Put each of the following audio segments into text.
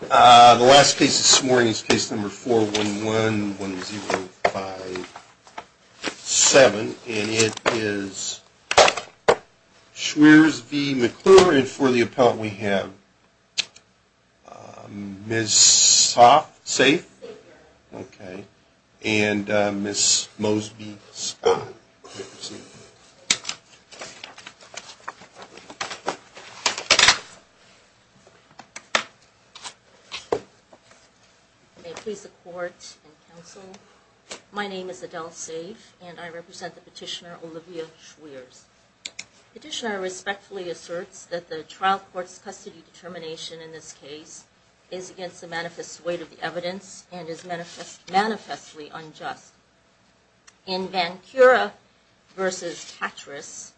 The last case this morning is case number 4111057, and it is Schwerers v. McClure, and for the appellant we have Ms. Hoff, safe? Safe. Okay, and Ms. Mosby, spot? May it please the court and counsel, my name is Adele Safe, and I represent the petitioner, Olivia Schwerers. The petitioner respectfully asserts that the trial court's custody determination in this case is against the manifest weight of the evidence and is manifestly unjust. In Vancura v. Patras,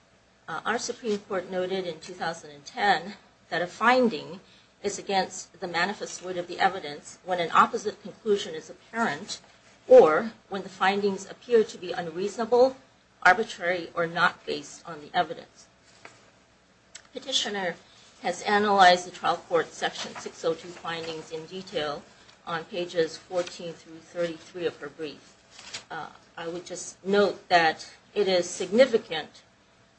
our Supreme Court noted in 2010 that a finding is against the manifest weight of the evidence when an opposite conclusion is apparent, or when the findings appear to be unreasonable, arbitrary, or not based on the evidence. The petitioner has analyzed the trial court's section 602 findings in detail on pages 14 through 33 of her brief. I would just note that it is significant,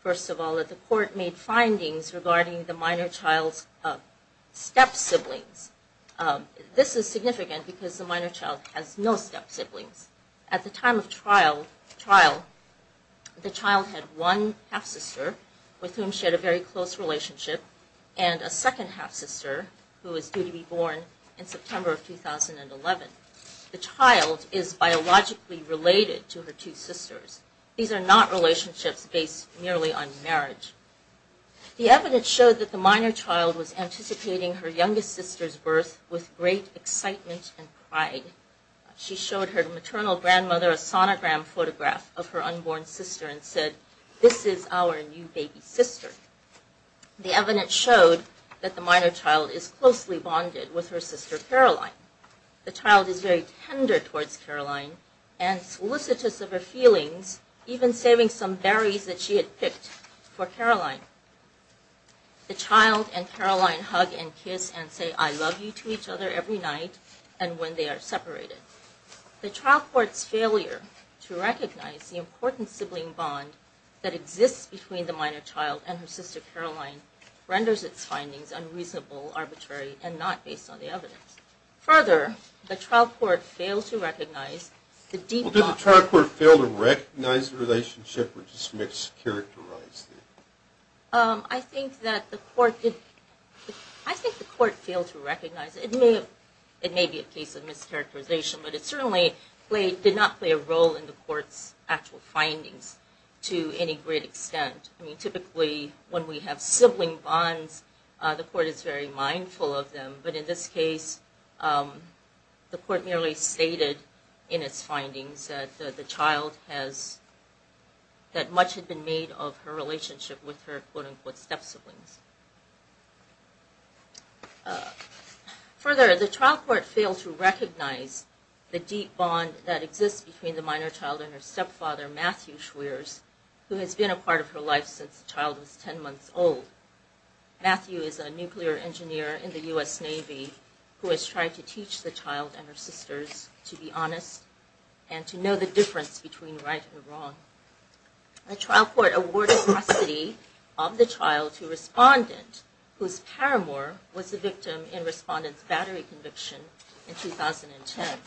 first of all, that the court made findings regarding the minor child's step-siblings. This is significant because the minor child has no step-siblings. At the time of trial, the child had one half-sister, with whom she had a very close relationship, and a second half-sister, who is due to be born in September of 2011. The child is biologically related to her two sisters. These are not relationships based merely on marriage. The evidence showed that the minor child was anticipating her youngest sister's birth with great excitement and pride. She showed her maternal grandmother a sonogram photograph of her unborn sister and said, This is our new baby sister. The evidence showed that the minor child is closely bonded with her sister Caroline. The child is very tender towards Caroline and solicitous of her feelings, even saving some berries that she had picked for Caroline. The child and Caroline hug and kiss and say I love you to each other every night and when they are separated. The trial court's failure to recognize the important sibling bond that exists between the minor child and her sister Caroline renders its findings unreasonable, arbitrary, and not based on the evidence. Further, the trial court failed to recognize the deep bond... I think the court failed to recognize it. It may be a case of mischaracterization, but it certainly did not play a role in the court's actual findings to any great extent. Typically, when we have sibling bonds, the court is very mindful of them. But in this case, the court merely stated in its findings that the child has... that much had been made of her relationship with her quote-unquote step-siblings. Further, the trial court failed to recognize the deep bond that exists between the minor child and her stepfather, Matthew Schwerz, who has been a part of her life since the child was 10 months old. Matthew is a nuclear engineer in the U.S. Navy who has tried to teach the child and her sisters to be honest and to know the difference between right and wrong. The trial court awarded custody of the child to a respondent whose paramour was the victim in the respondent's battery conviction in 2010.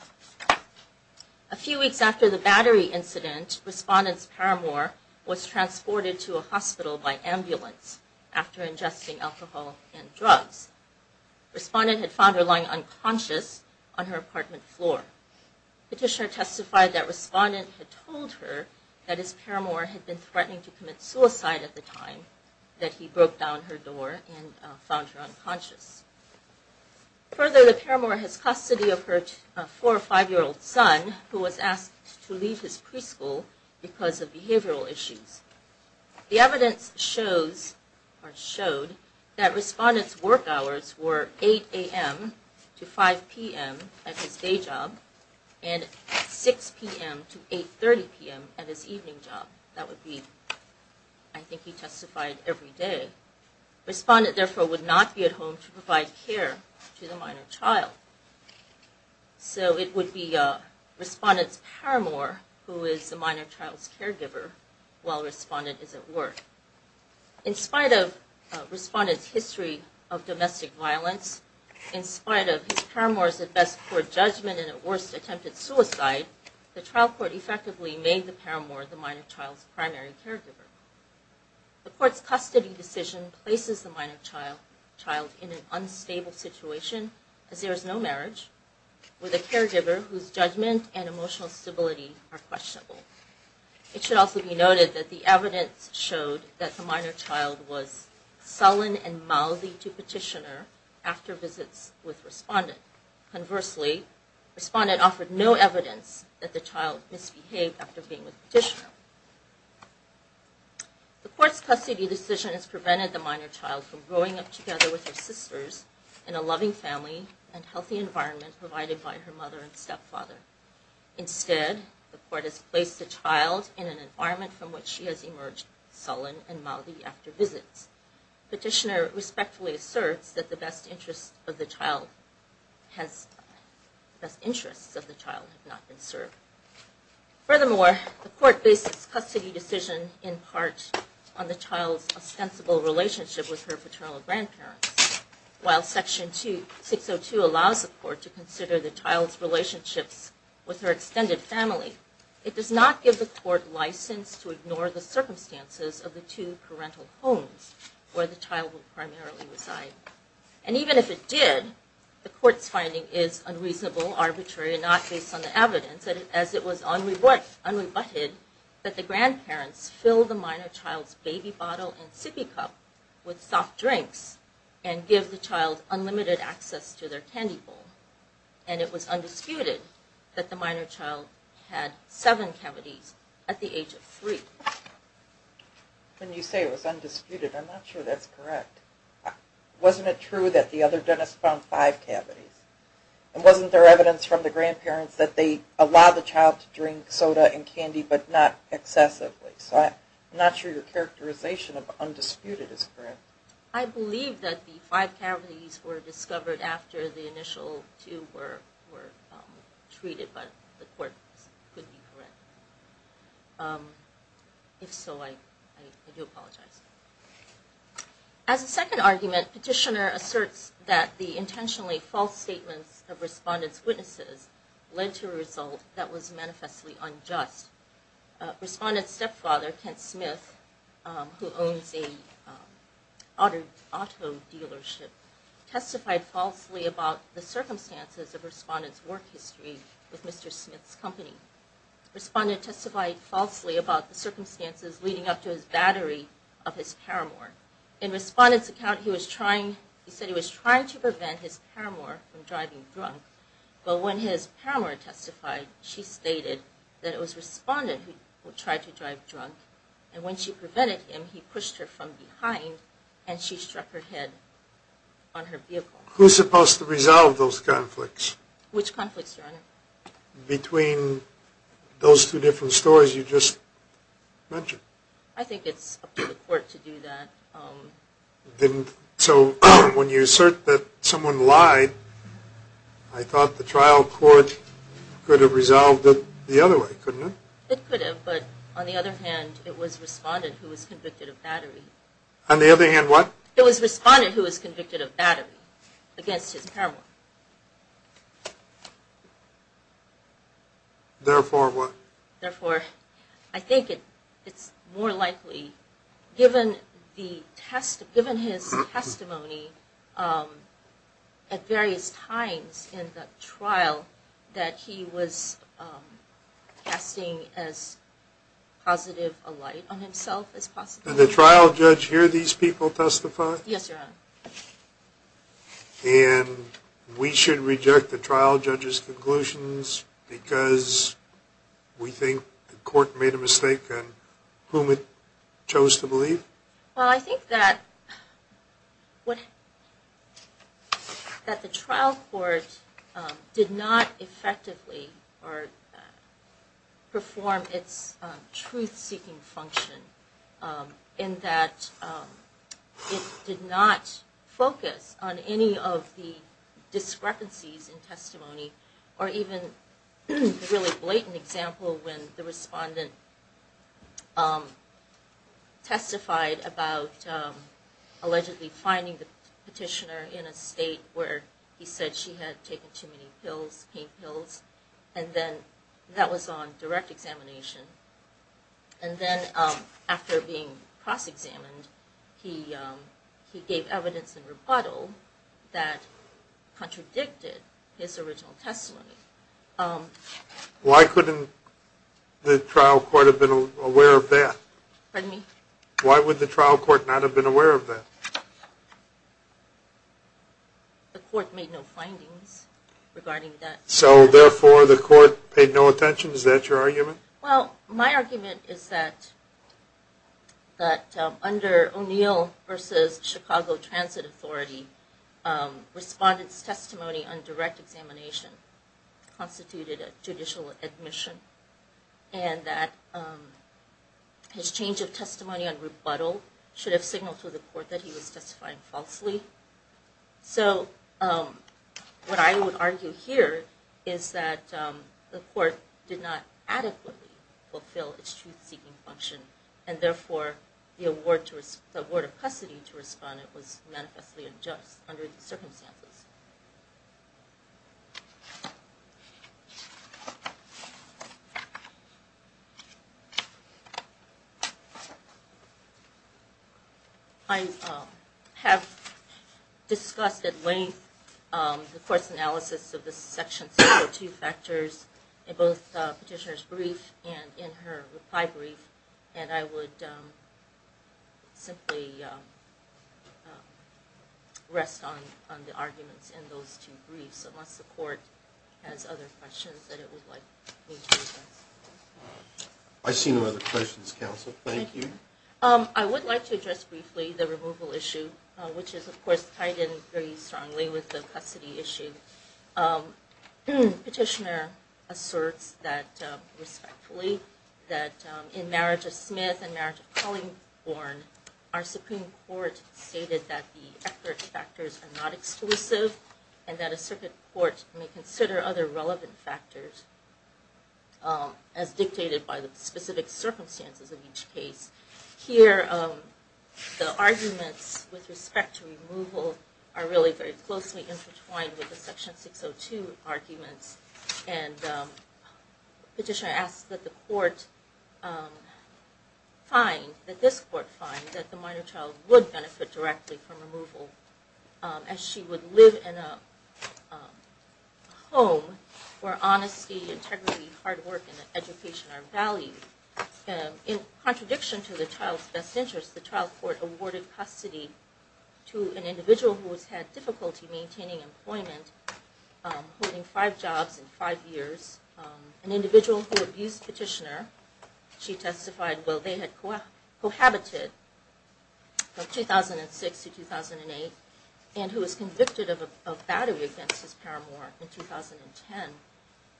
A few weeks after the battery incident, respondent's paramour was transported to a hospital by ambulance after ingesting alcohol and drugs. Respondent had found her lying unconscious on her apartment floor. Petitioner testified that respondent had told her that his paramour had been threatening to commit suicide at the time that he broke down her door and found her unconscious. Further, the paramour has custody of her four or five-year-old son who was asked to leave his preschool because of behavioral issues. The evidence shows or showed that respondent's work hours were 8 a.m. to 5 p.m. at his day job and 6 p.m. to 8.30 p.m. at his evening job. That would be... I think he testified every day. Respondent, therefore, would not be at home to provide care to the minor child. So it would be respondent's paramour who is the minor child's caregiver while respondent is at work. In spite of respondent's history of domestic violence, in spite of his paramour's at best poor judgment and at worst attempted suicide, the trial court effectively made the paramour the minor child's primary caregiver. The court's custody decision places the minor child in an unstable situation as there is no marriage with a caregiver whose judgment and emotional stability are questionable. It should also be noted that the evidence showed that the minor child was sullen and mildly to petitioner after visits with respondent. Conversely, respondent offered no evidence that the child misbehaved after being with petitioner. The court's custody decision has prevented the minor child from growing up together with her sisters in a loving family and healthy environment provided by her mother and stepfather. Instead, the court has placed the child in an environment from which she has emerged sullen and mildly after visits. Petitioner respectfully asserts that the best interests of the child have not been served. Furthermore, the court bases custody decision in part on the child's ostensible relationship with her paternal grandparents. While section 602 allows the court to consider the child's relationships with her extended family, it does not give the court license to ignore the circumstances of the two parental homes where the child would primarily reside. And even if it did, the court's finding is unreasonable, arbitrary, and not based on the evidence, as it was unrebutted that the grandparents fill the minor child's baby bottle and sippy cup with soft drinks and give the child unlimited access to their candy bowl. And it was undisputed that the minor child had seven cavities at the age of three. When you say it was undisputed, I'm not sure that's correct. Wasn't it true that the other dentist found five cavities? And wasn't there evidence from the grandparents that they allowed the child to drink soda and candy but not excessively? So I'm not sure your characterization of undisputed is correct. I believe that the five cavities were discovered after the initial two were treated, but the court could be correct. If so, I do apologize. As a second argument, Petitioner asserts that the intentionally false statements of respondents' witnesses led to a result that was manifestly unjust. Respondent's stepfather, Kent Smith, who owns an auto dealership, testified falsely about the circumstances of respondents' work history with Mr. Smith's company. Respondent testified falsely about the circumstances leading up to his battery of his Paramore. In Respondent's account, he said he was trying to prevent his Paramore from driving drunk, but when his Paramore testified, she stated that it was Respondent who tried to drive drunk, and when she prevented him, he pushed her from behind and she struck her head on her vehicle. Who's supposed to resolve those conflicts? Which conflicts, Your Honor? Between those two different stories you just mentioned. I think it's up to the court to do that. So when you assert that someone lied, I thought the trial court could have resolved it the other way, couldn't it? It could have, but on the other hand, it was Respondent who was convicted of battery. On the other hand, what? It was Respondent who was convicted of battery against his Paramore. Therefore, what? Therefore, I think it's more likely, given his testimony at various times in the trial, that he was casting as positive a light on himself as possible. Did the trial judge hear these people testify? Yes, Your Honor. And we should reject the trial judge's conclusions because we think the court made a mistake on whom it chose to believe? Well, I think that the trial court did not effectively perform its truth-seeking function in that it did not focus on any of the discrepancies in testimony or even a really blatant example when the Respondent testified about allegedly finding the petitioner in a state where he said she had taken too many pills, pain pills, and then that was on direct examination. And then after being cross-examined, he gave evidence in rebuttal that contradicted his original testimony. Why couldn't the trial court have been aware of that? Pardon me? Why would the trial court not have been aware of that? The court made no findings regarding that. So, therefore, the court paid no attention? Is that your argument? Well, my argument is that under O'Neill v. Chicago Transit Authority, Respondent's testimony on direct examination constituted a judicial admission and that his change of testimony on rebuttal should have signaled to the court that he was testifying falsely. So, what I would argue here is that the court did not adequately fulfill its truth-seeking function and, therefore, the award of custody to Respondent was manifestly unjust under the circumstances. I have discussed at length the court's analysis of the Section 602 factors in both the petitioner's brief and in her reply brief, and I would simply rest on the arguments in those two briefs unless the court has other questions that it would like me to address. I see no other questions, Counsel. Thank you. I would like to address briefly the removal issue, which is, of course, tied in very strongly with the custody issue. Petitioner asserts that, respectfully, in marriage of Smith and marriage of Collingborn, our Supreme Court stated that the Eckford factors are not exclusive and that a circuit court may consider other relevant factors as dictated by the specific circumstances of each case. Here, the arguments with respect to removal are really very closely intertwined with the Section 602 arguments. Petitioner asks that the court find, that this court find, that the minor child would benefit directly from removal as she would live in a home where honesty, integrity, hard work, and education are valued. In contradiction to the child's best interest, the trial court awarded custody to an individual who has had difficulty maintaining employment, holding five jobs in five years, an individual who abused petitioner. She testified, well, they had cohabited from 2006 to 2008 and who was convicted of battery against his paramour in 2010.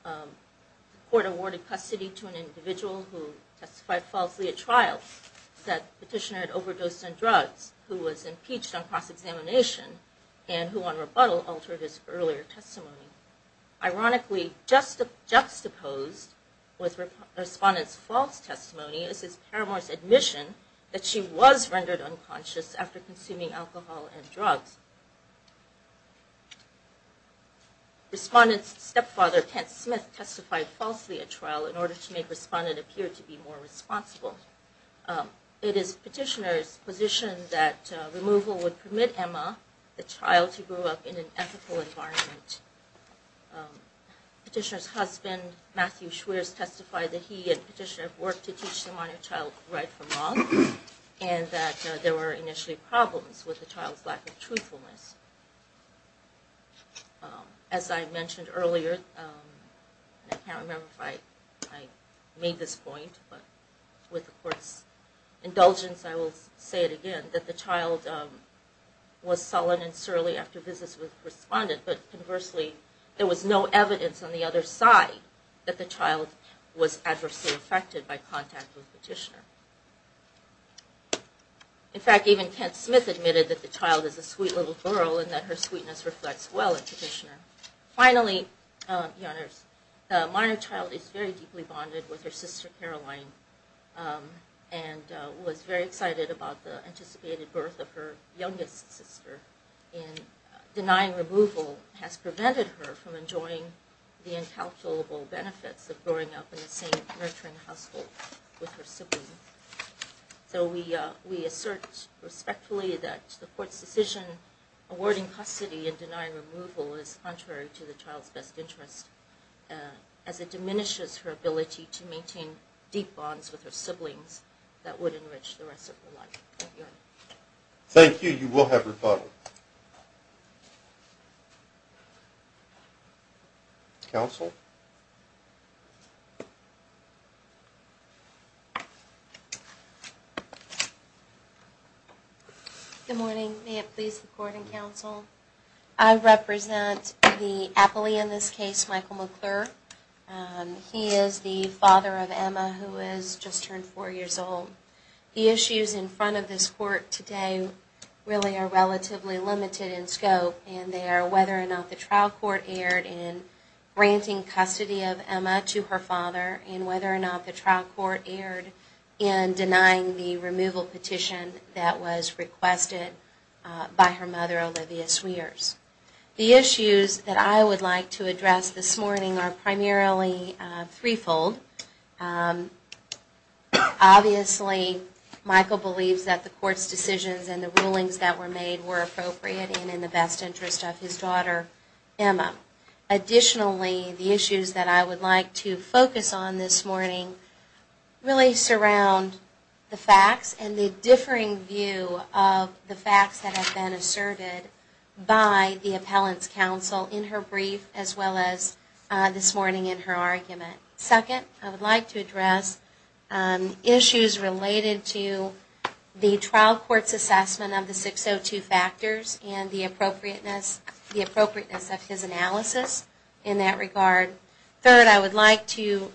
The court awarded custody to an individual who testified falsely at trial, said petitioner had overdosed on drugs, who was impeached on cross-examination, and who on rebuttal altered his earlier testimony. Ironically, juxtaposed with Respondent's false testimony is his paramour's admission that she was rendered unconscious after consuming alcohol and drugs. Respondent's stepfather, Kent Smith, testified falsely at trial in order to make Respondent appear to be more responsible. It is Petitioner's position that removal would permit Emma, the child, to grow up in an ethical environment. Petitioner's husband, Matthew Schwerz, testified that he and Petitioner had worked to teach the minor child right from wrong and that there were initially problems with the child's lack of truthfulness. As I mentioned earlier, I can't remember if I made this point, but with the court's indulgence I will say it again, that the child was sullen and surly after visits with Respondent, but conversely there was no evidence on the other side that the child was adversely affected by contact with Petitioner. In fact, even Kent Smith admitted that the child is a sweet little girl and that her sweetness reflects well at Petitioner. Finally, the minor child is very deeply bonded with her sister, Caroline, and was very excited about the anticipated birth of her youngest sister. Denying removal has prevented her from enjoying the incalculable benefits of growing up in the same nurturing household with her siblings. We assert respectfully that the court's decision awarding custody and denying removal is contrary to the child's best interest as it diminishes her ability to maintain deep bonds with her siblings that would enrich the rest of her life. Thank you. You will have your final. Counsel? Good morning. May it please the Court and Counsel? I represent the appellee in this case, Michael McClure. He is the father of Emma who has just turned four years old. The issues in front of this Court today really are relatively limited in scope and they are whether or not the trial court erred in granting custody of Emma to her father and whether or not the trial court erred in denying the removal petition that was requested by her mother, Olivia Sweers. The issues that I would like to address this morning are primarily threefold. Obviously, Michael believes that the Court's decisions and the rulings that were made were appropriate and in the best interest of his daughter, Emma. Additionally, the issues that I would like to focus on this morning really surround the facts and the differing view of the facts that have been asserted by the appellant's counsel in her brief as well as this morning in her argument. Second, I would like to address issues related to the trial court's assessment of the 602 factors and the appropriateness of his analysis in that regard. Third, I would like to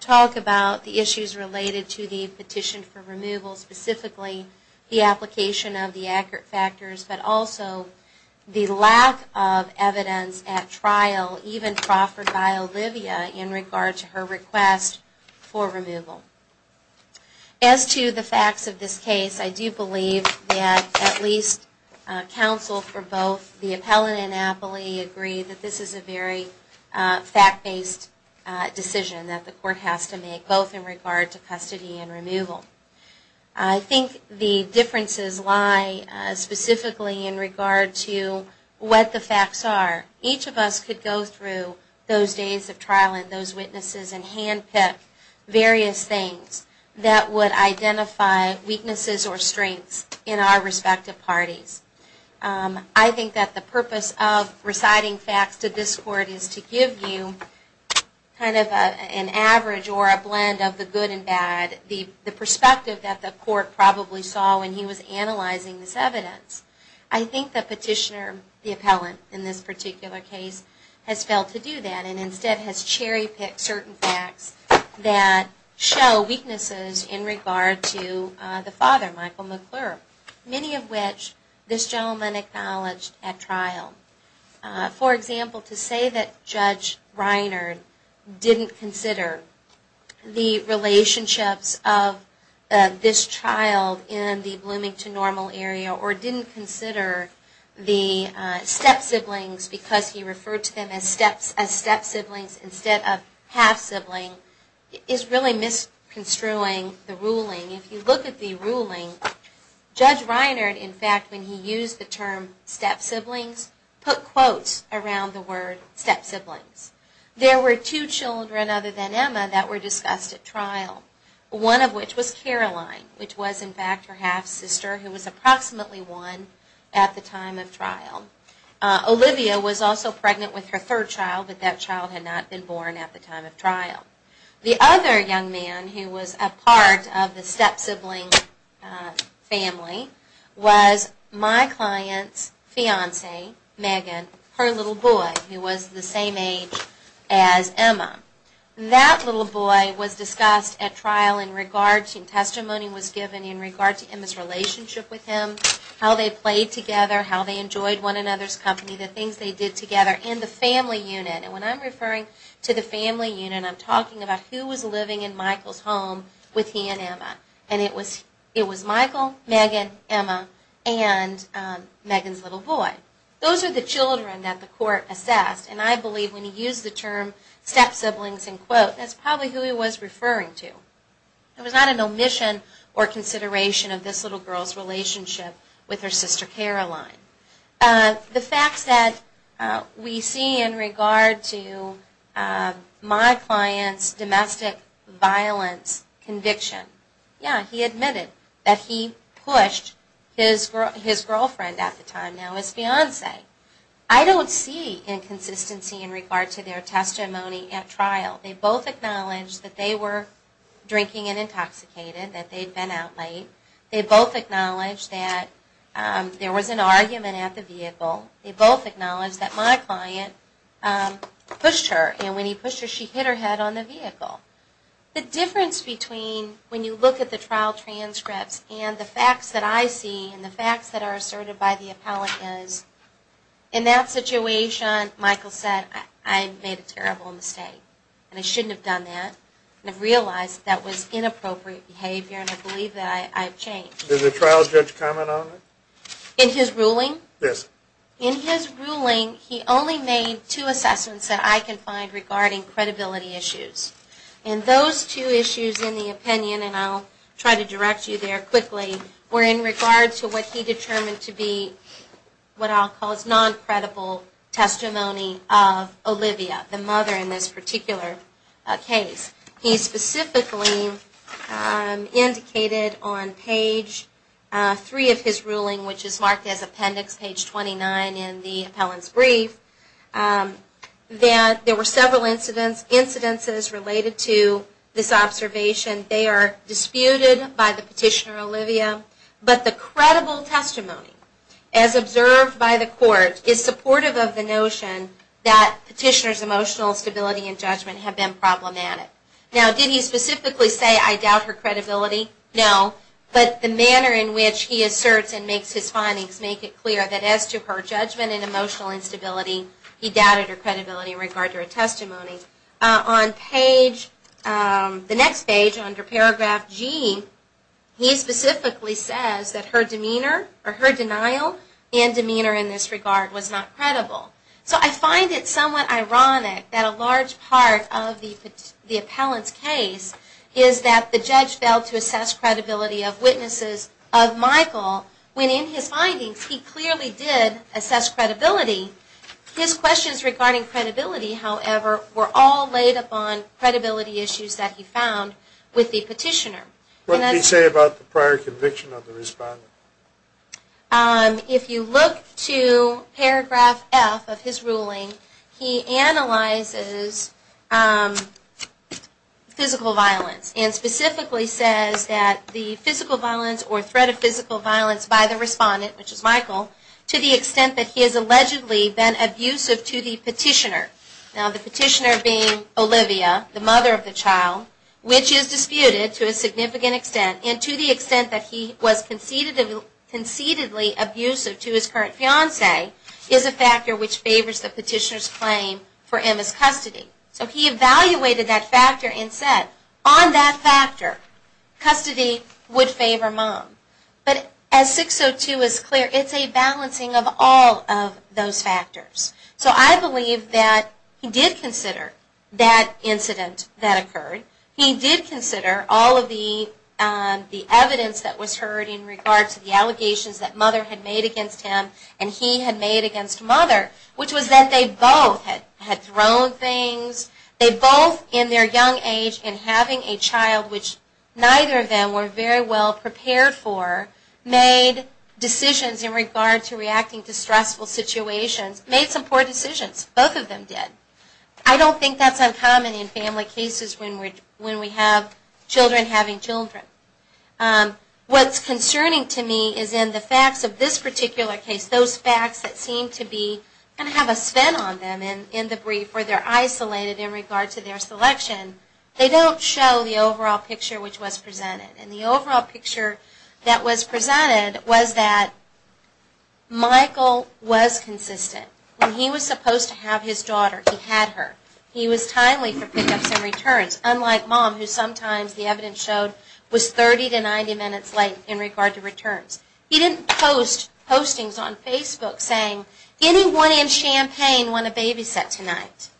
talk about the issues related to the petition for removal, specifically the application of the accurate factors, but also the lack of evidence at trial even proffered by Olivia in regard to her request for removal. As to the facts of this case, I do believe that at least counsel for both the appellant and Appley agree that this is a very fact-based decision that the Court has to make, both in regard to custody and removal. I think the differences lie specifically in regard to what the facts are. Each of us could go through those days of trial and those witnesses and handpick various things that would identify weaknesses or strengths in our respective parties. I think that the purpose of reciting facts to this Court is to give you kind of an average or a blend of the good and bad, the perspective that the Court probably saw when he was analyzing this evidence. I think the petitioner, the appellant in this particular case, has failed to do that and instead has cherry-picked certain facts that show weaknesses in regard to the father, Michael McClure, many of which this gentleman acknowledged at trial. For example, to say that Judge Reiner didn't consider the relationships of this child in the Bloomington Normal Area or didn't consider the step-siblings because he referred to them as step-siblings instead of half-sibling is really misconstruing the ruling. If you look at the ruling, Judge Reiner, in fact, when he used the term step-siblings, put quotes around the word step-siblings. There were two children other than Emma that were discussed at trial, one of which was Caroline, which was, in fact, her half-sister who was approximately one at the time of trial. Olivia was also pregnant with her third child, but that child had not been born at the time of trial. The other young man who was a part of the step-sibling family was my client's fiancée, Megan, her little boy, who was the same age as Emma. That little boy was discussed at trial in regard to, testimony was given in regard to Emma's relationship with him, how they played together, how they enjoyed one another's company, the things they did together in the family unit. And when I'm referring to the family unit, I'm talking about who was living in Michael's home with he and Emma. And it was Michael, Megan, Emma, and Megan's little boy. Those are the children that the court assessed, and I believe when he used the term step-siblings in quotes, that's probably who he was referring to. It was not an omission or consideration of this little girl's relationship with her sister Caroline. The facts that we see in regard to my client's domestic violence conviction, yeah, he admitted that he pushed his girlfriend at the time, now his fiancée. I don't see inconsistency in regard to their testimony at trial. They both acknowledged that they were drinking and intoxicated, that they'd been out late. They both acknowledged that there was an argument at the vehicle. They both acknowledged that my client pushed her, and when he pushed her, she hit her head on the vehicle. The difference between when you look at the trial transcripts and the facts that I see and the facts that are asserted by the appellant is, in that situation, Michael said, I made a terrible mistake, and I shouldn't have done that. I realized that was inappropriate behavior, and I believe that I've changed. Did the trial judge comment on it? In his ruling? Yes. In his ruling, he only made two assessments that I can find regarding credibility issues. And those two issues in the opinion, and I'll try to direct you there quickly, were in regard to what he determined to be what I'll call his non-credible testimony of Olivia, the mother in this particular case. He specifically indicated on page 3 of his ruling, which is marked as appendix page 29 in the appellant's brief, that there were several incidences related to this observation. They are disputed by the petitioner, Olivia, but the credible testimony, as observed by the court, is supportive of the notion that petitioner's emotional stability and judgment have been problematic. Now, did he specifically say, I doubt her credibility? No. But the manner in which he asserts and makes his findings make it clear that as to her judgment and emotional instability, he doubted her credibility in regard to her testimony. On the next page, under paragraph G, he specifically says that her denial and demeanor in this regard was not credible. So I find it somewhat ironic that a large part of the appellant's case is that the judge failed to assess credibility of witnesses of Michael, when in his findings he clearly did assess credibility. His questions regarding credibility, however, were all laid upon credibility issues that he found with the petitioner. What did he say about the prior conviction of the respondent? If you look to paragraph F of his ruling, he analyzes physical violence and specifically says that the physical violence or threat of physical violence by the respondent, which is Michael, to the extent that he has allegedly been abusive to the petitioner. Now, the petitioner being Olivia, the mother of the child, which is disputed to a significant extent, and to the extent that he was conceitedly abusive to his current fiancee, is a factor which favors the petitioner's claim for Emma's custody. So he evaluated that factor and said, on that factor, custody would favor mom. But as 602 is clear, it's a balancing of all of those factors. So I believe that he did consider that incident that occurred. He did consider all of the evidence that was heard in regard to the allegations that mother had made against him and he had made against mother, which was that they both had thrown things. They both, in their young age and having a child which neither of them were very well prepared for, made decisions in regard to reacting to stressful situations, made some poor decisions. Both of them did. I don't think that's uncommon in family cases when we have children having children. What's concerning to me is in the facts of this particular case, those facts that seem to be, and have a spin on them in the brief, where they're isolated in regard to their selection, they don't show the overall picture which was presented. And the overall picture that was presented was that Michael was consistent. When he was supposed to have his daughter, he had her. He was timely for pickups and returns, unlike mom, who sometimes the evidence showed was 30 to 90 minutes late in regard to returns. He didn't post postings on Facebook saying, anyone in Champaign want a babysit tonight?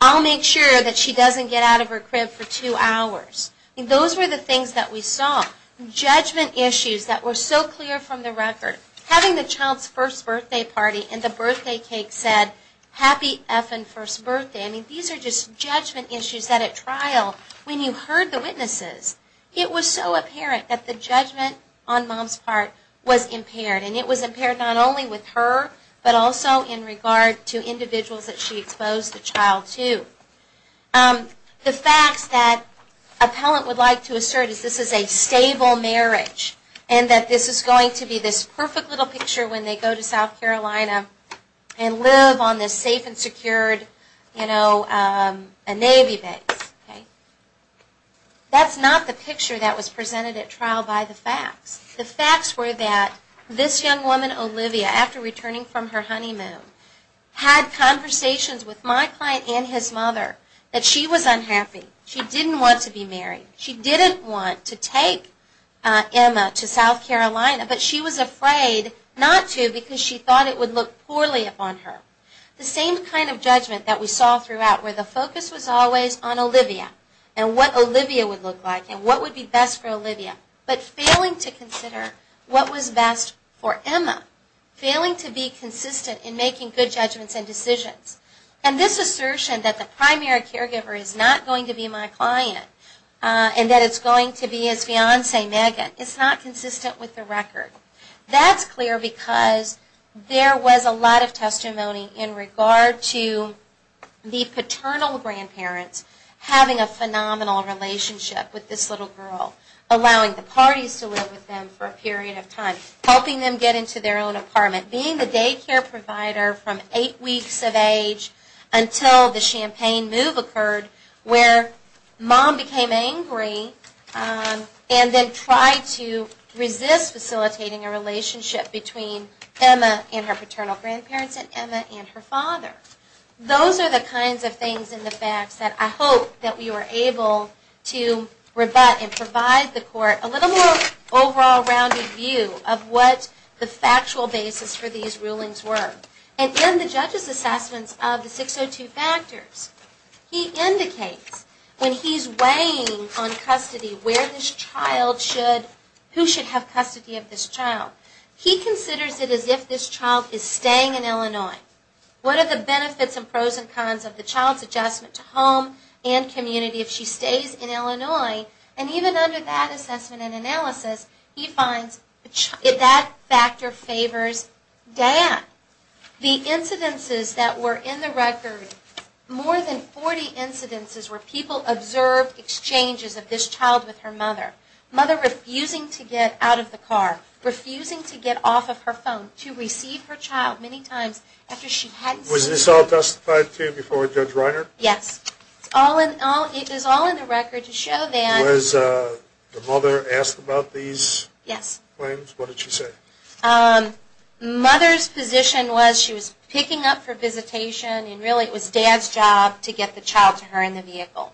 I'll make sure that she doesn't get out of her crib for two hours. Those were the things that we saw. Judgment issues that were so clear from the record. Having the child's first birthday party and the birthday cake said, happy effin' first birthday. I mean, these are just judgment issues that at trial, when you heard the witnesses, it was so apparent that the judgment on mom's part was impaired. And it was impaired not only with her, but also in regard to individuals that she exposed the child to. The facts that appellant would like to assert is this is a stable marriage. And that this is going to be this perfect little picture when they go to South Carolina and live on this safe and secured, you know, a Navy base. That's not the picture that was presented at trial by the facts. The facts were that this young woman, Olivia, after returning from her honeymoon, had conversations with my client and his mother that she was unhappy. She didn't want to be married. She didn't want to take Emma to South Carolina, but she was afraid not to because she thought it would look poorly upon her. The same kind of judgment that we saw throughout, where the focus was always on Olivia and what Olivia would look like and what would be best for Olivia. But failing to consider what was best for Emma. Failing to be consistent in making good judgments and decisions. And this assertion that the primary caregiver is not going to be my client and that it's going to be his fiance, Megan, is not consistent with the record. That's clear because there was a lot of testimony in regard to the paternal grandparents having a phenomenal relationship with this little girl. Allowing the parties to live with them for a period of time. Helping them get into their own apartment. Being the daycare provider from eight weeks of age until the champagne move occurred where mom became angry and then tried to resist facilitating a relationship between Emma and her paternal grandparents and Emma and her father. Those are the kinds of things in the facts that I hope that we were able to rebut and provide the court a little more overall rounded view of what the factual basis for these rulings were. And in the judge's assessments of the 602 factors, he indicates when he's weighing on custody where this child should, who should have custody of this child, he considers it as if this child is staying in Illinois. What are the benefits and pros and cons of the child's adjustment to home and community if she stays in Illinois? And even under that assessment and analysis, he finds that factor favors Dan. The incidences that were in the record, more than 40 incidences where people observed exchanges of this child with her mother. Mother refusing to get out of the car, refusing to get off of her phone, to receive her child many times after she hadn't seen him. Was this all testified to before Judge Reiner? Yes. It is all in the record to show that. Was the mother asked about these claims? Yes. What did she say? Mother's position was she was picking up for visitation and really it was Dad's job to get the child to her in the vehicle.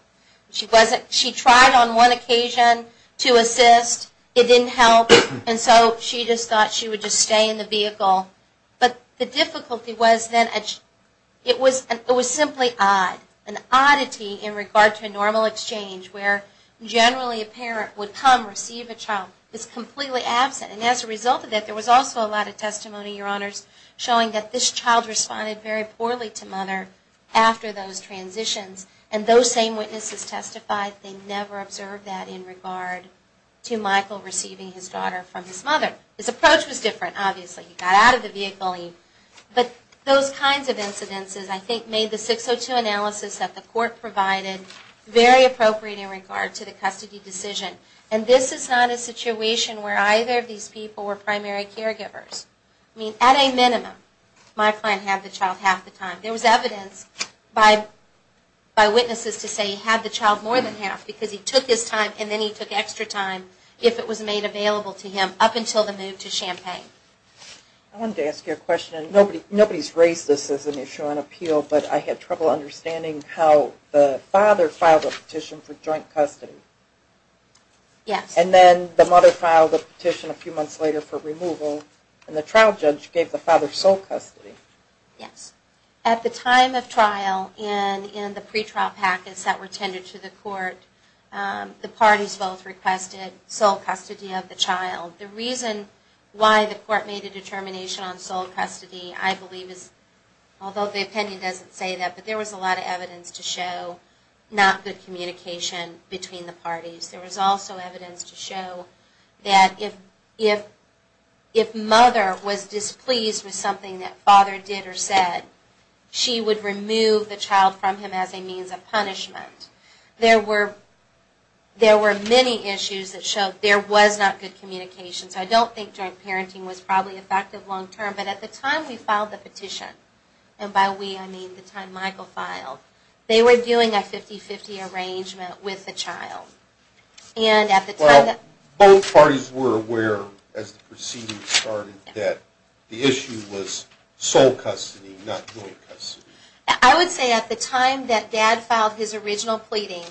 She tried on one occasion to assist. It didn't help. And so she just thought she would just stay in the vehicle. But the difficulty was then it was simply odd. An oddity in regard to a normal exchange where generally a parent would come and receive a child is completely absent. And as a result of that, there was also a lot of testimony, Your Honors, showing that this child responded very poorly to mother after those transitions. And those same witnesses testified they never observed that in regard to Michael receiving his daughter from his mother. His approach was different, obviously. He got out of the vehicle. But those kinds of incidences I think made the 602 analysis that the court provided very appropriate in regard to the custody decision. And this is not a situation where either of these people were primary caregivers. I mean, at a minimum, my client had the child half the time. There was evidence by witnesses to say he had the child more than half because he took his time and then he took extra time if it was made available to him up until the move to Champaign. I wanted to ask you a question. Nobody's raised this as an issue on appeal, but I had trouble understanding how the father filed a petition for joint custody. Yes. And then the mother filed a petition a few months later for removal, and the trial judge gave the father sole custody. Yes. At the time of trial and in the pretrial packets that were tended to the court, the parties both requested sole custody of the child. The reason why the court made a determination on sole custody I believe is, although the opinion doesn't say that, but there was a lot of evidence to show not good communication between the parties. There was also evidence to show that if mother was displeased with something that father did or said, she would remove the child from him as a means of punishment. There were many issues that showed there was not good communication. So I don't think joint parenting was probably effective long-term. But at the time we filed the petition, and by we I mean the time Michael filed, they were doing a 50-50 arrangement with the child. Well, both parties were aware as the proceedings started that the issue was sole custody, not joint custody. I would say at the time that dad filed his original pleading,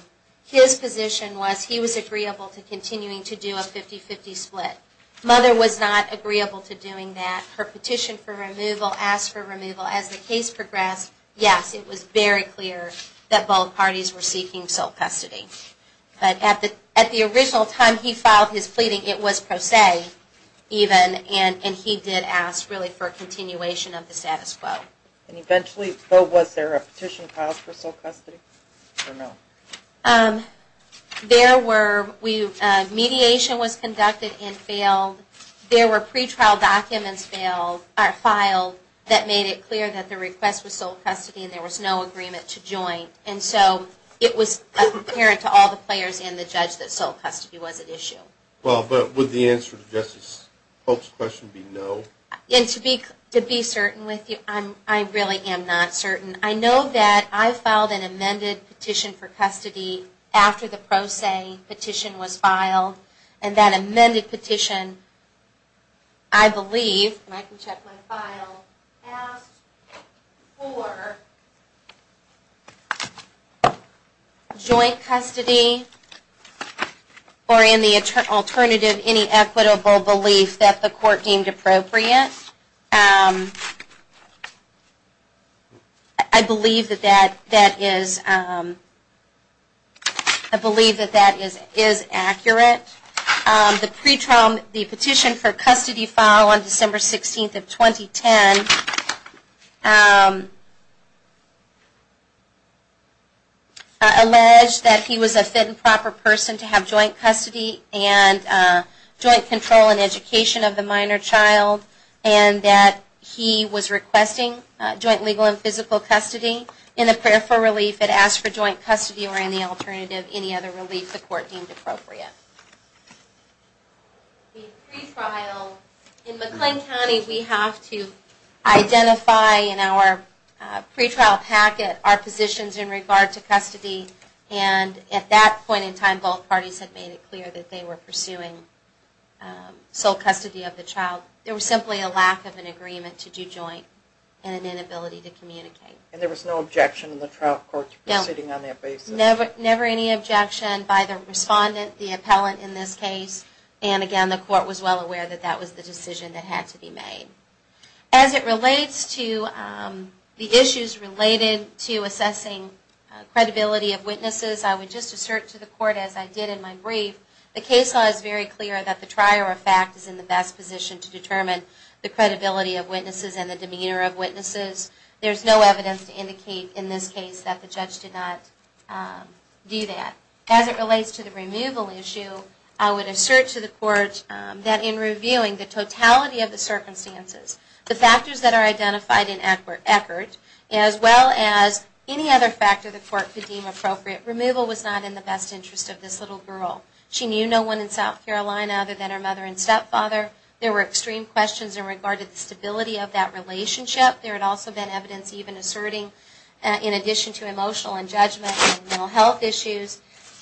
his position was he was agreeable to continuing to do a 50-50 split. Mother was not agreeable to doing that. Her petition for removal asked for removal. As the case progressed, yes, it was very clear that both parties were seeking sole custody. But at the original time he filed his pleading, it was pro se even, and he did ask really for a continuation of the status quo. And eventually, though, was there a petition filed for sole custody or no? There were. Mediation was conducted and failed. There were pretrial documents filed that made it clear that the request was sole custody and there was no agreement to joint. And so it was apparent to all the players and the judge that sole custody was at issue. Well, but would the answer to Justice Polk's question be no? And to be certain with you, I really am not certain. I know that I filed an amended petition for custody after the pro se petition was filed, and that amended petition, I believe, and I can check my file, asked for joint custody or in the alternative any equitable belief that the court deemed appropriate. I believe that that is accurate. The petition for custody filed on December 16th of 2010 alleged that he was a fit and proper person to have joint custody and joint control and education of the minor child and that he was requesting joint legal and physical custody. In a prayer for relief, it asked for joint custody or in the alternative any other relief the court deemed appropriate. In McLean County, we have to identify in our pretrial packet our positions in regard to custody, and at that point in time both parties had made it clear that they were pursuing sole custody of the child. There was simply a lack of an agreement to do joint and an inability to communicate. And there was no objection in the trial court proceeding on that basis? No, never any objection by the respondent, the appellant in this case, and again the court was well aware that that was the decision that had to be made. As it relates to the issues related to assessing credibility of witnesses, I would just assert to the court as I did in my brief, the case law is very clear that the trier of fact is in the best position to determine the credibility of witnesses and the demeanor of witnesses. There is no evidence to indicate in this case that the judge did not do that. As it relates to the removal issue, I would assert to the court that in reviewing the totality of the circumstances, the factors that are identified in Eckert, as well as any other factor the court could deem appropriate, removal was not in the best interest of this little girl. She knew no one in South Carolina other than her mother and stepfather. There were extreme questions in regard to the stability of that relationship. There had also been evidence even asserting, in addition to emotional and judgment and mental health issues,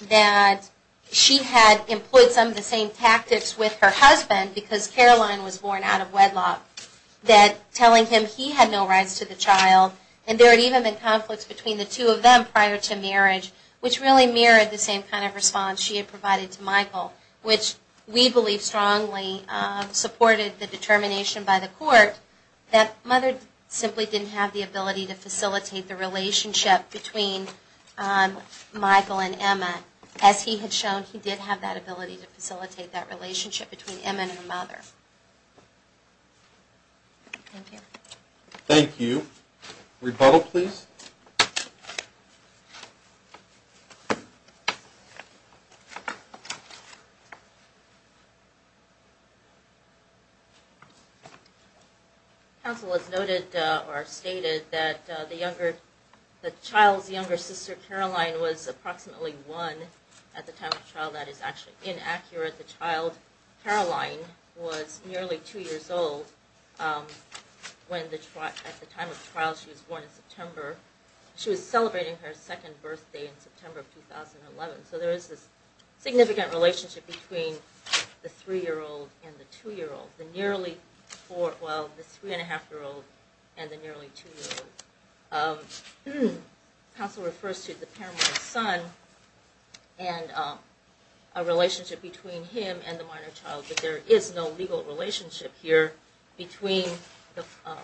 that she had employed some of the same tactics with her husband because Caroline was born out of wedlock, that telling him he had no rights to the child, and there had even been conflicts between the two of them prior to marriage, which really mirrored the same kind of response she had provided to Michael, which we believe strongly supported the determination by the court that mother simply didn't have the ability to facilitate the relationship between Michael and Emma. As he had shown, he did have that ability to facilitate that relationship between Emma and her mother. Thank you. Rebuttal, please. Counsel has noted or stated that the child's younger sister, Caroline, was approximately one at the time of trial. That is actually inaccurate. The child, Caroline, was nearly two years old. At the time of the trial, she was born in September. She was celebrating her second birthday in September of 2011, so there is this significant relationship between the three-year-old and the two-year-old, the three-and-a-half-year-old and the nearly two-year-old. Counsel refers to the paramount son and a relationship between him and the minor child, but there is no legal relationship here between the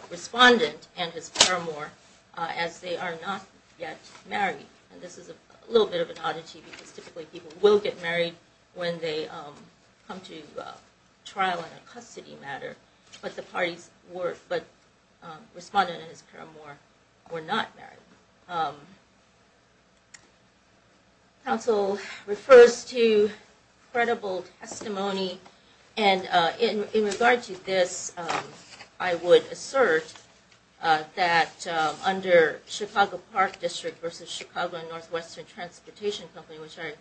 respondent and his paramour as they are not yet married. This is a little bit of an oddity because typically people will get married when they come to trial on a custody matter, but the respondent and his paramour were not married. Counsel refers to credible testimony. In regard to this, I would assert that under Chicago Park District versus Chicago and Northwestern Transportation Company, which I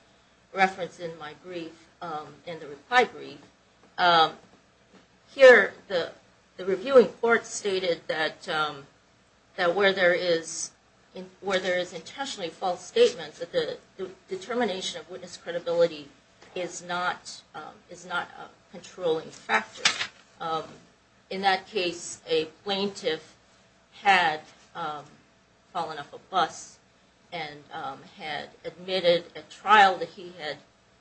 referenced in my brief, in the reply brief, here the reviewing court stated that where there is intentionally false statement, the determination of witness credibility is not a controlling factor. In that case, a plaintiff had fallen off a bus and had admitted at trial that he had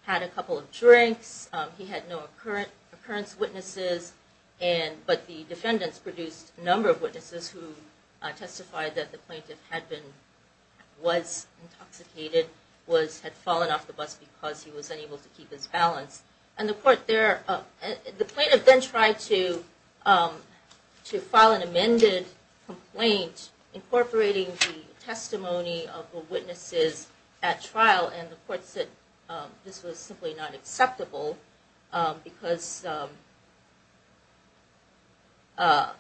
had a couple of drinks, he had no occurrence witnesses, but the defendants produced a number of witnesses who testified that the plaintiff was intoxicated, had fallen off the bus because he was unable to keep his balance. The plaintiff then tried to file an amended complaint incorporating the testimony of the witnesses at trial, and the court said this was simply not acceptable because, I'm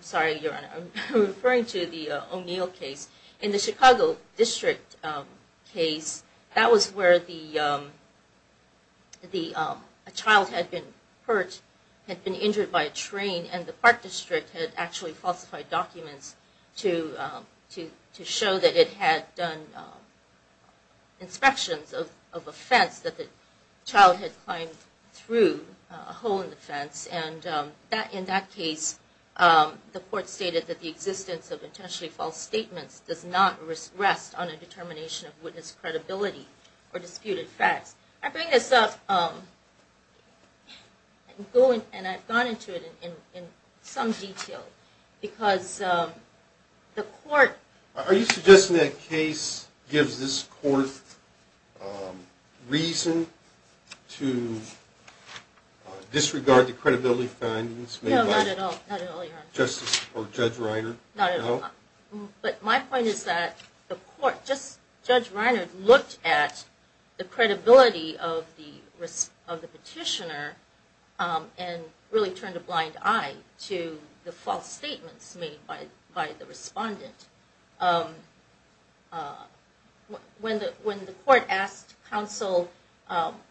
sorry Your Honor, I'm referring to the O'Neill case. In the Chicago District case, that was where a child had been hurt, had been injured by a train, and the Park District had actually falsified documents to show that it had done inspections of a fence, that the child had climbed through a hole in the fence, and in that case the court stated that the existence of intentionally false statements does not rest on a determination of witness credibility or disputed facts. I bring this up, and I've gone into it in some detail, because the court... Are you suggesting that case gives this court reason to disregard the credibility findings... No, not at all, not at all, Your Honor. ...made by Justice or Judge Reiner? Not at all. No? But my point is that the court, Judge Reiner looked at the credibility of the petitioner and really turned a blind eye to the false statements made by the respondent. When the court asked counsel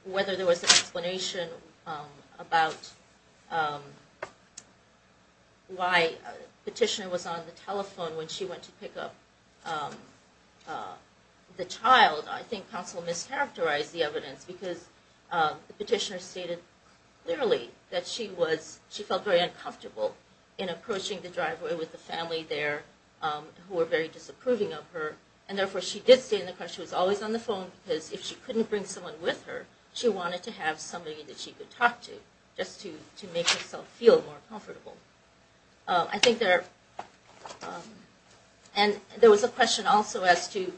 whether there was an explanation about why the petitioner was on the telephone when she went to pick up the child, I think counsel mischaracterized the evidence because the petitioner stated clearly that she felt very uncomfortable in approaching the driveway with the family there who were very disapproving of her, and therefore she did state in the court she was always on the phone because if she couldn't bring someone with her, she wanted to have somebody that she could talk to just to make herself feel more comfortable. I think there was a question also as to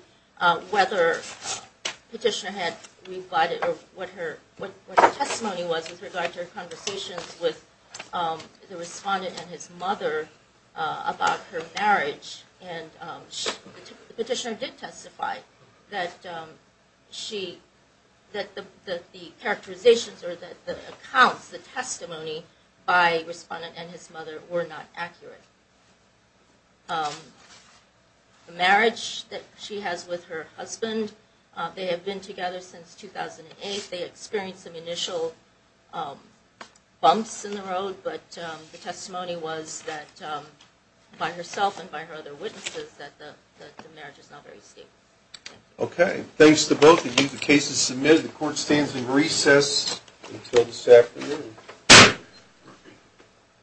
whether the petitioner had rebutted or what her testimony was with regard to her conversations with the respondent and his mother about her marriage. And the petitioner did testify that the characterizations or the accounts, the testimony by the respondent and his mother were not accurate. The marriage that she has with her husband, they have been together since 2008. They experienced some initial bumps in the road, but the testimony was that by herself and by her other witnesses that the marriage is not very stable. Okay. Thanks to both of you. The case is submitted. The court stands in recess until this afternoon.